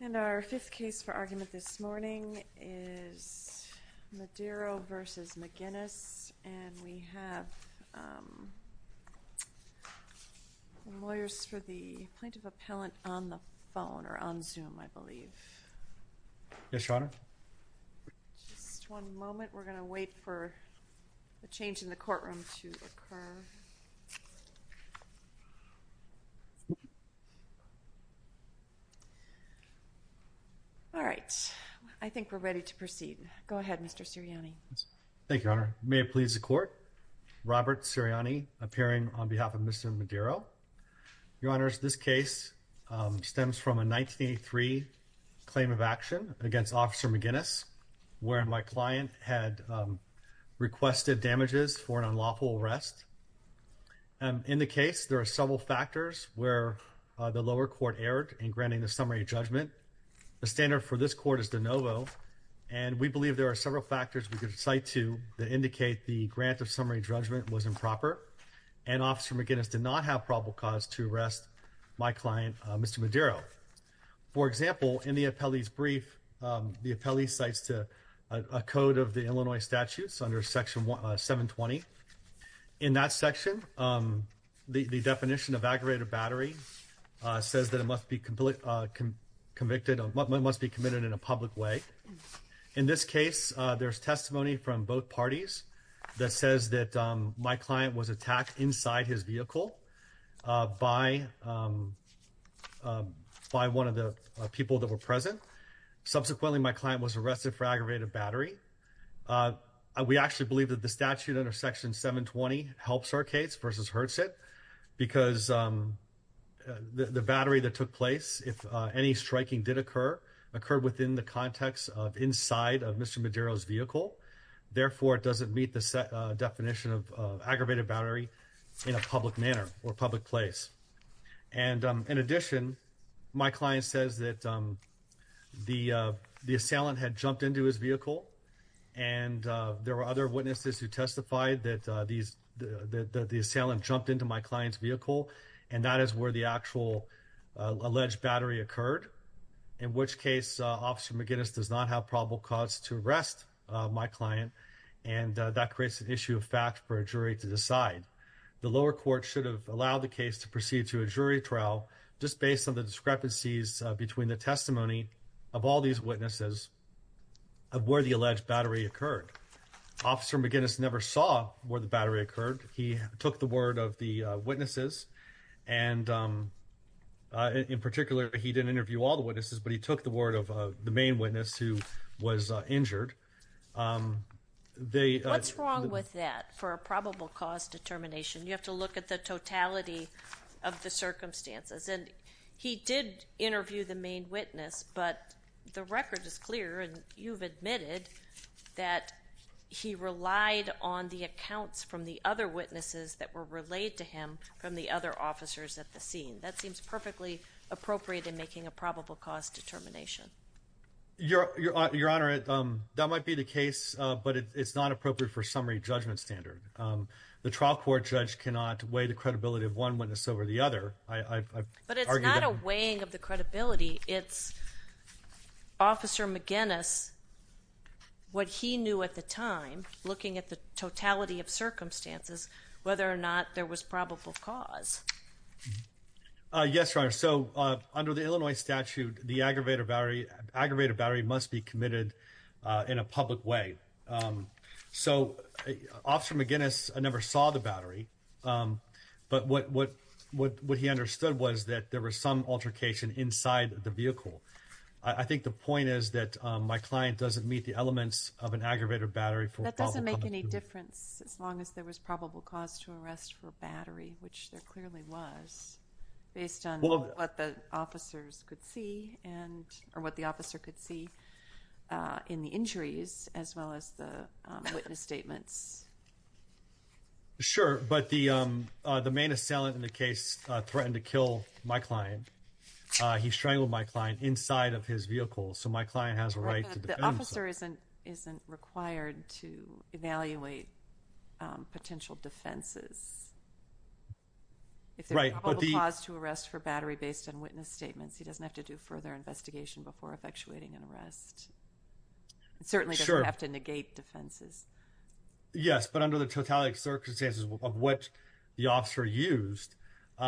And our fifth case for argument this morning is Madero v. McGuinness, and we have lawyers for the plaintiff-appellant on the phone or on Zoom, I believe. Yes, Your Honor. Just one moment. We're going to wait for the change in the courtroom to occur. All right. I think we're ready to proceed. Go ahead, Mr. Sirianni. Thank you, Your Honor. May it please the Court, Robert Sirianni appearing on behalf of Mr. Madero. Your Honors, this case stems from a 1983 claim of action against Officer McGuinness where my client had requested damages for an unlawful arrest. In the case, there are several factors where the lower court erred in granting the summary judgment. The standard for this court is de novo, and we believe there are several factors we could cite to that indicate the grant of summary judgment was improper, and Officer McGuinness did not have probable cause to arrest my client, Mr. Madero. For example, in the appellee's brief, the appellee cites a code of the Illinois statutes under Section 720. In that section, the definition of aggravated battery says that it must be committed in a public way. In this case, there's testimony from both parties that says that my client was attacked inside his vehicle by one of the people that were present. Subsequently, my client was arrested for aggravated battery. We actually believe that the statute under Section 720 helps our case versus hurts it, because the battery that took place, if any striking did occur, occurred within the context of inside of Mr. Madero's vehicle. Therefore, it doesn't meet the definition of aggravated battery in a public manner or public place. In addition, my client says that the assailant had jumped into his vehicle, and there were other witnesses who testified that the assailant jumped into my client's vehicle, and that is where the actual alleged battery occurred, in which case Officer McGuinness does not have probable cause to arrest my client, and that creates an issue of fact for a jury to decide. The lower court should have allowed the case to proceed to a jury trial, just based on the discrepancies between the testimony of all these witnesses of where the alleged battery occurred. Officer McGuinness never saw where the battery occurred. He took the word of the witnesses, and in particular, he didn't interview all the witnesses, but he took the word of the main witness who was injured. What's wrong with that for a probable cause determination? You have to look at the totality of the circumstances, and he did interview the main witness, but the record is clear, and you've admitted that he relied on the accounts from the other witnesses that were relayed to him from the other officers at the scene. That seems perfectly appropriate in making a probable cause determination. Your Honor, that might be the case, but it's not appropriate for summary judgment standard. The trial court judge cannot weigh the credibility of one witness over the other. But it's not a weighing of the credibility. It's Officer McGuinness, what he knew at the time, looking at the totality of circumstances, whether or not there was probable cause. Yes, Your Honor. So under the Illinois statute, the aggravated battery must be committed in a public way. So Officer McGuinness never saw the battery, but what he understood was that there was some altercation inside the vehicle. I think the point is that my client doesn't meet the elements of an aggravated battery for a public vehicle. It doesn't make any difference as long as there was probable cause to arrest for battery, which there clearly was, based on what the officers could see, or what the officer could see in the injuries as well as the witness statements. Sure, but the main assailant in the case threatened to kill my client. He strangled my client inside of his vehicle, so my client has a right to defend himself. But the officer isn't required to evaluate potential defenses. If there's probable cause to arrest for battery based on witness statements, he doesn't have to do further investigation before effectuating an arrest. Certainly doesn't have to negate defenses. Yes, but under the totality of circumstances of what the officer used, he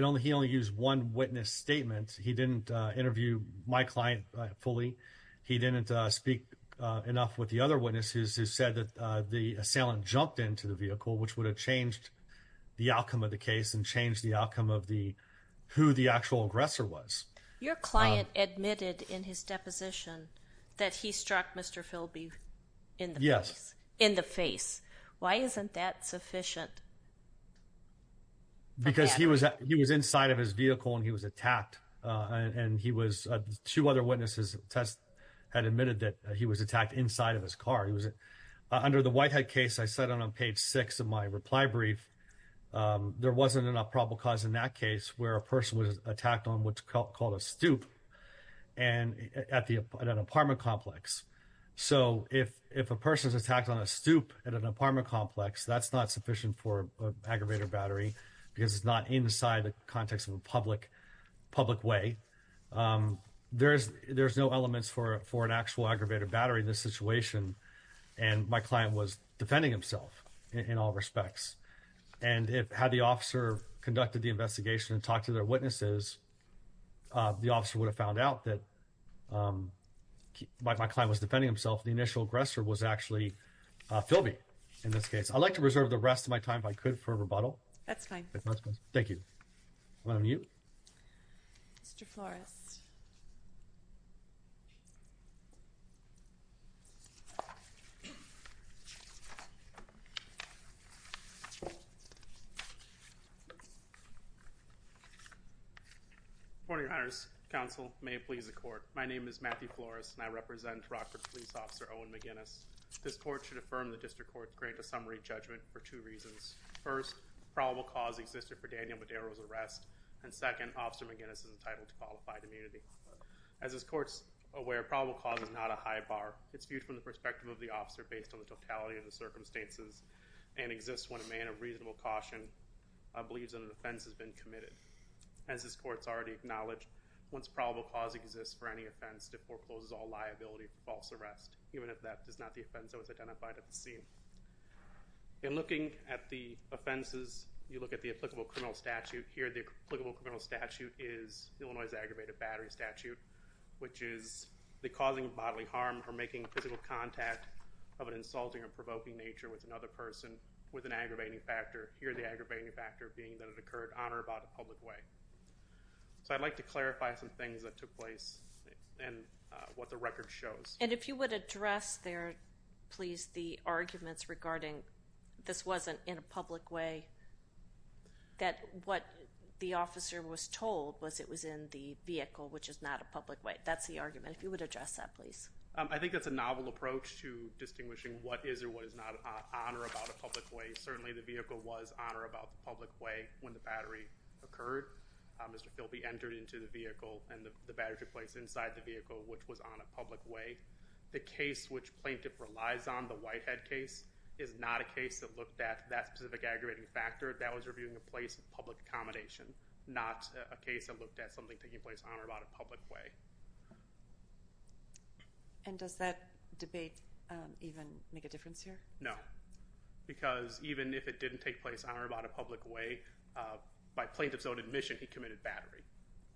only used one witness statement. He didn't interview my client fully. He didn't speak enough with the other witnesses who said that the assailant jumped into the vehicle, which would have changed the outcome of the case and changed the outcome of who the actual aggressor was. Your client admitted in his deposition that he struck Mr. Philby in the face. Yes. In the face. Why isn't that sufficient? Because he was inside of his vehicle and he was attacked. And he was two other witnesses. Test had admitted that he was attacked inside of his car. He was under the Whitehead case. I said on page six of my reply brief. There wasn't enough probable cause in that case where a person was attacked on what's called a stoop. And at the apartment complex. So if if a person is attacked on a stoop at an apartment complex, that's not sufficient for aggravated battery because it's not inside the context of a public public way. There's there's no elements for for an actual aggravated battery in this situation. And my client was defending himself in all respects. And it had the officer conducted the investigation and talked to their witnesses. The officer would have found out that my client was defending himself. The initial aggressor was actually Philby. In this case, I'd like to reserve the rest of my time, if I could, for rebuttal. That's fine. Thank you. Mr. Flores. Good morning, Your Honors. Counsel may please the court. My name is Matthew Flores and I represent Rockford police officer Owen McGinnis. This court should affirm the district court's great a summary judgment for two reasons. First, probable cause existed for Daniel Madero's arrest. And second, Officer McGinnis is entitled to qualified immunity. As this court's aware, probable cause is not a high bar. It's viewed from the perspective of the officer based on the totality of the circumstances and exists when a man of reasonable caution believes that an offense has been committed. As this court's already acknowledged, once probable cause exists for any offense, it forecloses all liability for false arrest, even if that is not the offense that was identified at the scene. In looking at the offenses, you look at the applicable criminal statute. Here, the applicable criminal statute is Illinois' aggravated battery statute, which is the causing of bodily harm for making physical contact of an insulting or provoking nature with another person with an aggravating factor, here the aggravating factor being that it occurred on or about a public way. So I'd like to clarify some things that took place and what the record shows. And if you would address there, please, the arguments regarding this wasn't in a public way, that what the officer was told was it was in the vehicle, which is not a public way. That's the argument. If you would address that, please. I think that's a novel approach to distinguishing what is or what is not on or about a public way. Certainly the vehicle was on or about the public way when the battery occurred. Mr. Philby entered into the vehicle, and the battery took place inside the vehicle, which was on a public way. The case which plaintiff relies on, the Whitehead case, is not a case that looked at that specific aggravating factor. That was reviewing a place of public accommodation, not a case that looked at something taking place on or about a public way. And does that debate even make a difference here? No, because even if it didn't take place on or about a public way, by plaintiff's own admission he committed battery.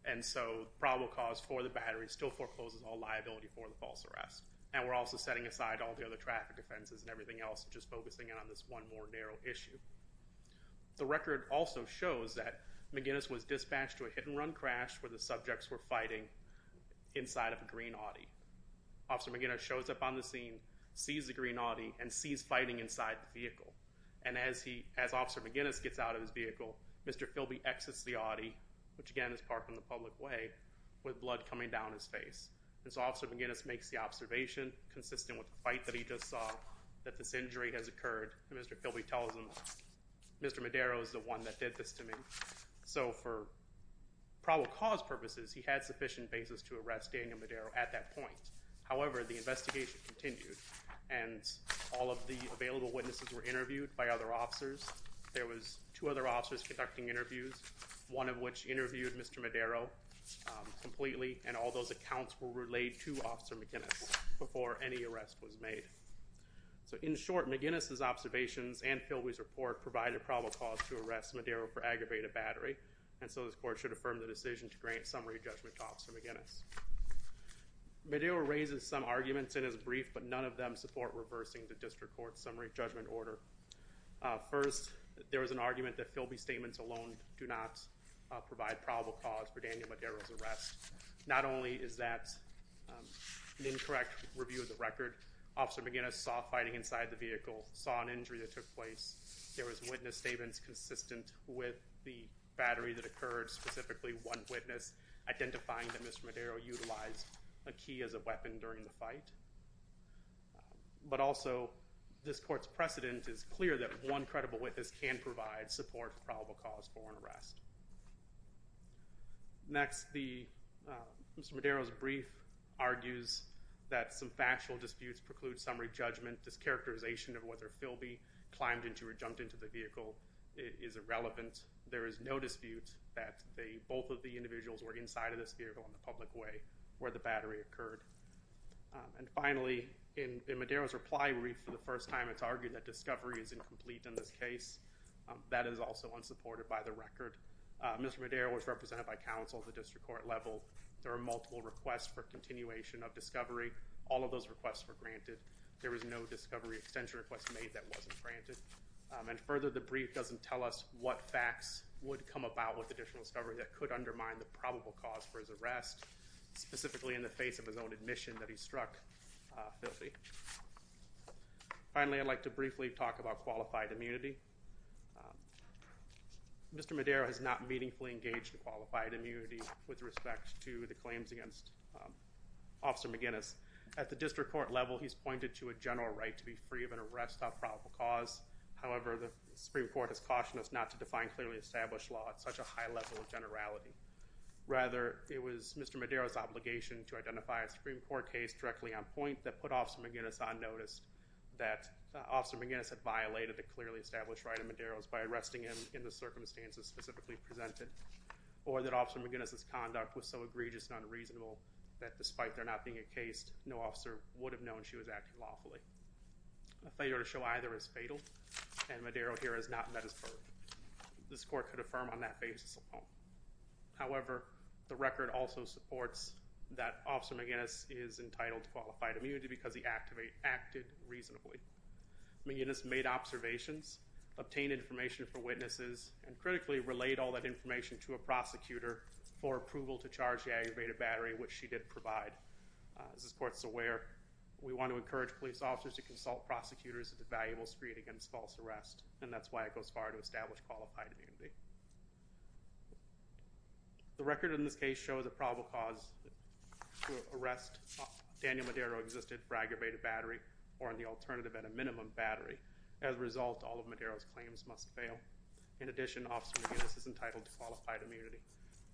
And so probable cause for the battery still forecloses all liability for the false arrest. And we're also setting aside all the other traffic offenses and everything else and just focusing in on this one more narrow issue. The record also shows that McGinnis was dispatched to a hit-and-run crash where the subjects were fighting inside of a green Audi. Officer McGinnis shows up on the scene, sees the green Audi, and sees fighting inside the vehicle. And as Officer McGinnis gets out of his vehicle, Mr. Philby exits the Audi, which again is parked on the public way, with blood coming down his face. And so Officer McGinnis makes the observation, consistent with the fight that he just saw, that this injury has occurred. And Mr. Philby tells him, Mr. Madero is the one that did this to me. So for probable cause purposes, he had sufficient basis to arrest Daniel Madero at that point. However, the investigation continued, and all of the available witnesses were interviewed by other officers. There was two other officers conducting interviews, one of which interviewed Mr. Madero completely, and all those accounts were relayed to Officer McGinnis before any arrest was made. So in short, McGinnis' observations and Philby's report provided probable cause to arrest Madero for aggravated battery, and so this court should affirm the decision to grant summary judgment to Officer McGinnis. Madero raises some arguments in his brief, but none of them support reversing the district court's summary judgment order. First, there was an argument that Philby's statements alone do not provide probable cause for Daniel Madero's arrest. Not only is that an incorrect review of the record, Officer McGinnis saw fighting inside the vehicle, saw an injury that took place. There was witness statements consistent with the battery that occurred, specifically one witness identifying that Mr. Madero utilized a key as a weapon during the fight. But also, this court's precedent is clear that one credible witness can provide support for probable cause for an arrest. Next, Mr. Madero's brief argues that some factual disputes preclude summary judgment. This characterization of whether Philby climbed into or jumped into the vehicle is irrelevant. There is no dispute that both of the individuals were inside of this vehicle on the public way where the battery occurred. And finally, in Madero's reply brief for the first time, it's argued that discovery is incomplete in this case. That is also unsupported by the record. Mr. Madero was represented by counsel at the district court level. There were multiple requests for continuation of discovery. All of those requests were granted. There was no discovery extension request made that wasn't granted. And further, the brief doesn't tell us what facts would come about with additional discovery that could undermine the probable cause for his arrest, specifically in the face of his own admission that he struck Philby. Finally, I'd like to briefly talk about qualified immunity. Mr. Madero has not meaningfully engaged in qualified immunity with respect to the claims against Officer McGinnis. At the district court level, he's pointed to a general right to be free of an arrest on probable cause. However, the Supreme Court has cautioned us not to define clearly established law at such a high level of generality. Rather, it was Mr. Madero's obligation to identify a Supreme Court case directly on point that put Officer McGinnis on notice that Officer McGinnis had violated the clearly established right of Madero's by arresting him in the circumstances specifically presented or that Officer McGinnis' conduct was so egregious and unreasonable that despite there not being a case, no officer would have known she was acting lawfully. A failure to show either is fatal, and Madero here has not met his burden. This court could affirm on that basis alone. However, the record also supports that Officer McGinnis is entitled to qualified immunity because he acted reasonably. McGinnis made observations, obtained information from witnesses, and critically relayed all that information to a prosecutor for approval to charge the aggravated battery, which she did provide. As this court's aware, we want to encourage police officers to consult prosecutors at the valuable street against false arrest, and that's why it goes far to establish qualified immunity. The record in this case shows a probable cause to arrest Daniel Madero existed for aggravated battery or the alternative at a minimum battery. As a result, all of Madero's claims must fail. In addition, Officer McGinnis is entitled to qualified immunity.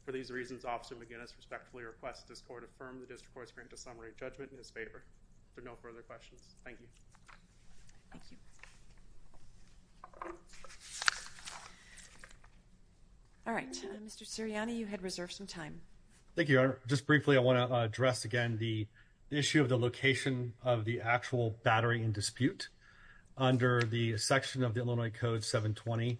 For these reasons, Officer McGinnis respectfully requests this court affirm the district court's grant of summary judgment in his favor. There are no further questions. Thank you. Thank you. Thank you. All right. Mr. Sirianni, you had reserved some time. Thank you, Your Honor. Just briefly, I want to address again the issue of the location of the actual battery in dispute. Under the section of the Illinois Code 720,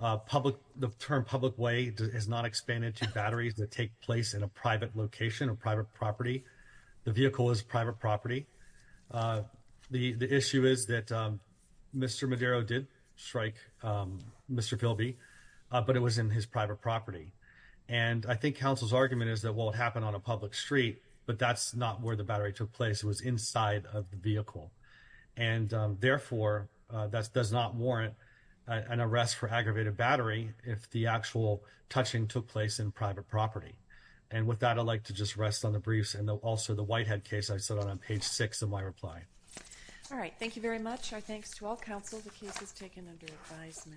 the term public way is not expanded to batteries that take place in a private location, a private property. The vehicle is a private property. The issue is that Mr. Madero did strike Mr. Philby, but it was in his private property. And I think counsel's argument is that, well, it happened on a public street, but that's not where the battery took place. It was inside of the vehicle. And therefore, that does not warrant an arrest for aggravated battery if the actual touching took place in private property. And with that, I'd like to just rest on the briefs. And also the Whitehead case I set out on page 6 of my reply. All right. Thank you very much. Our thanks to all counsel. The case is taken under advisement.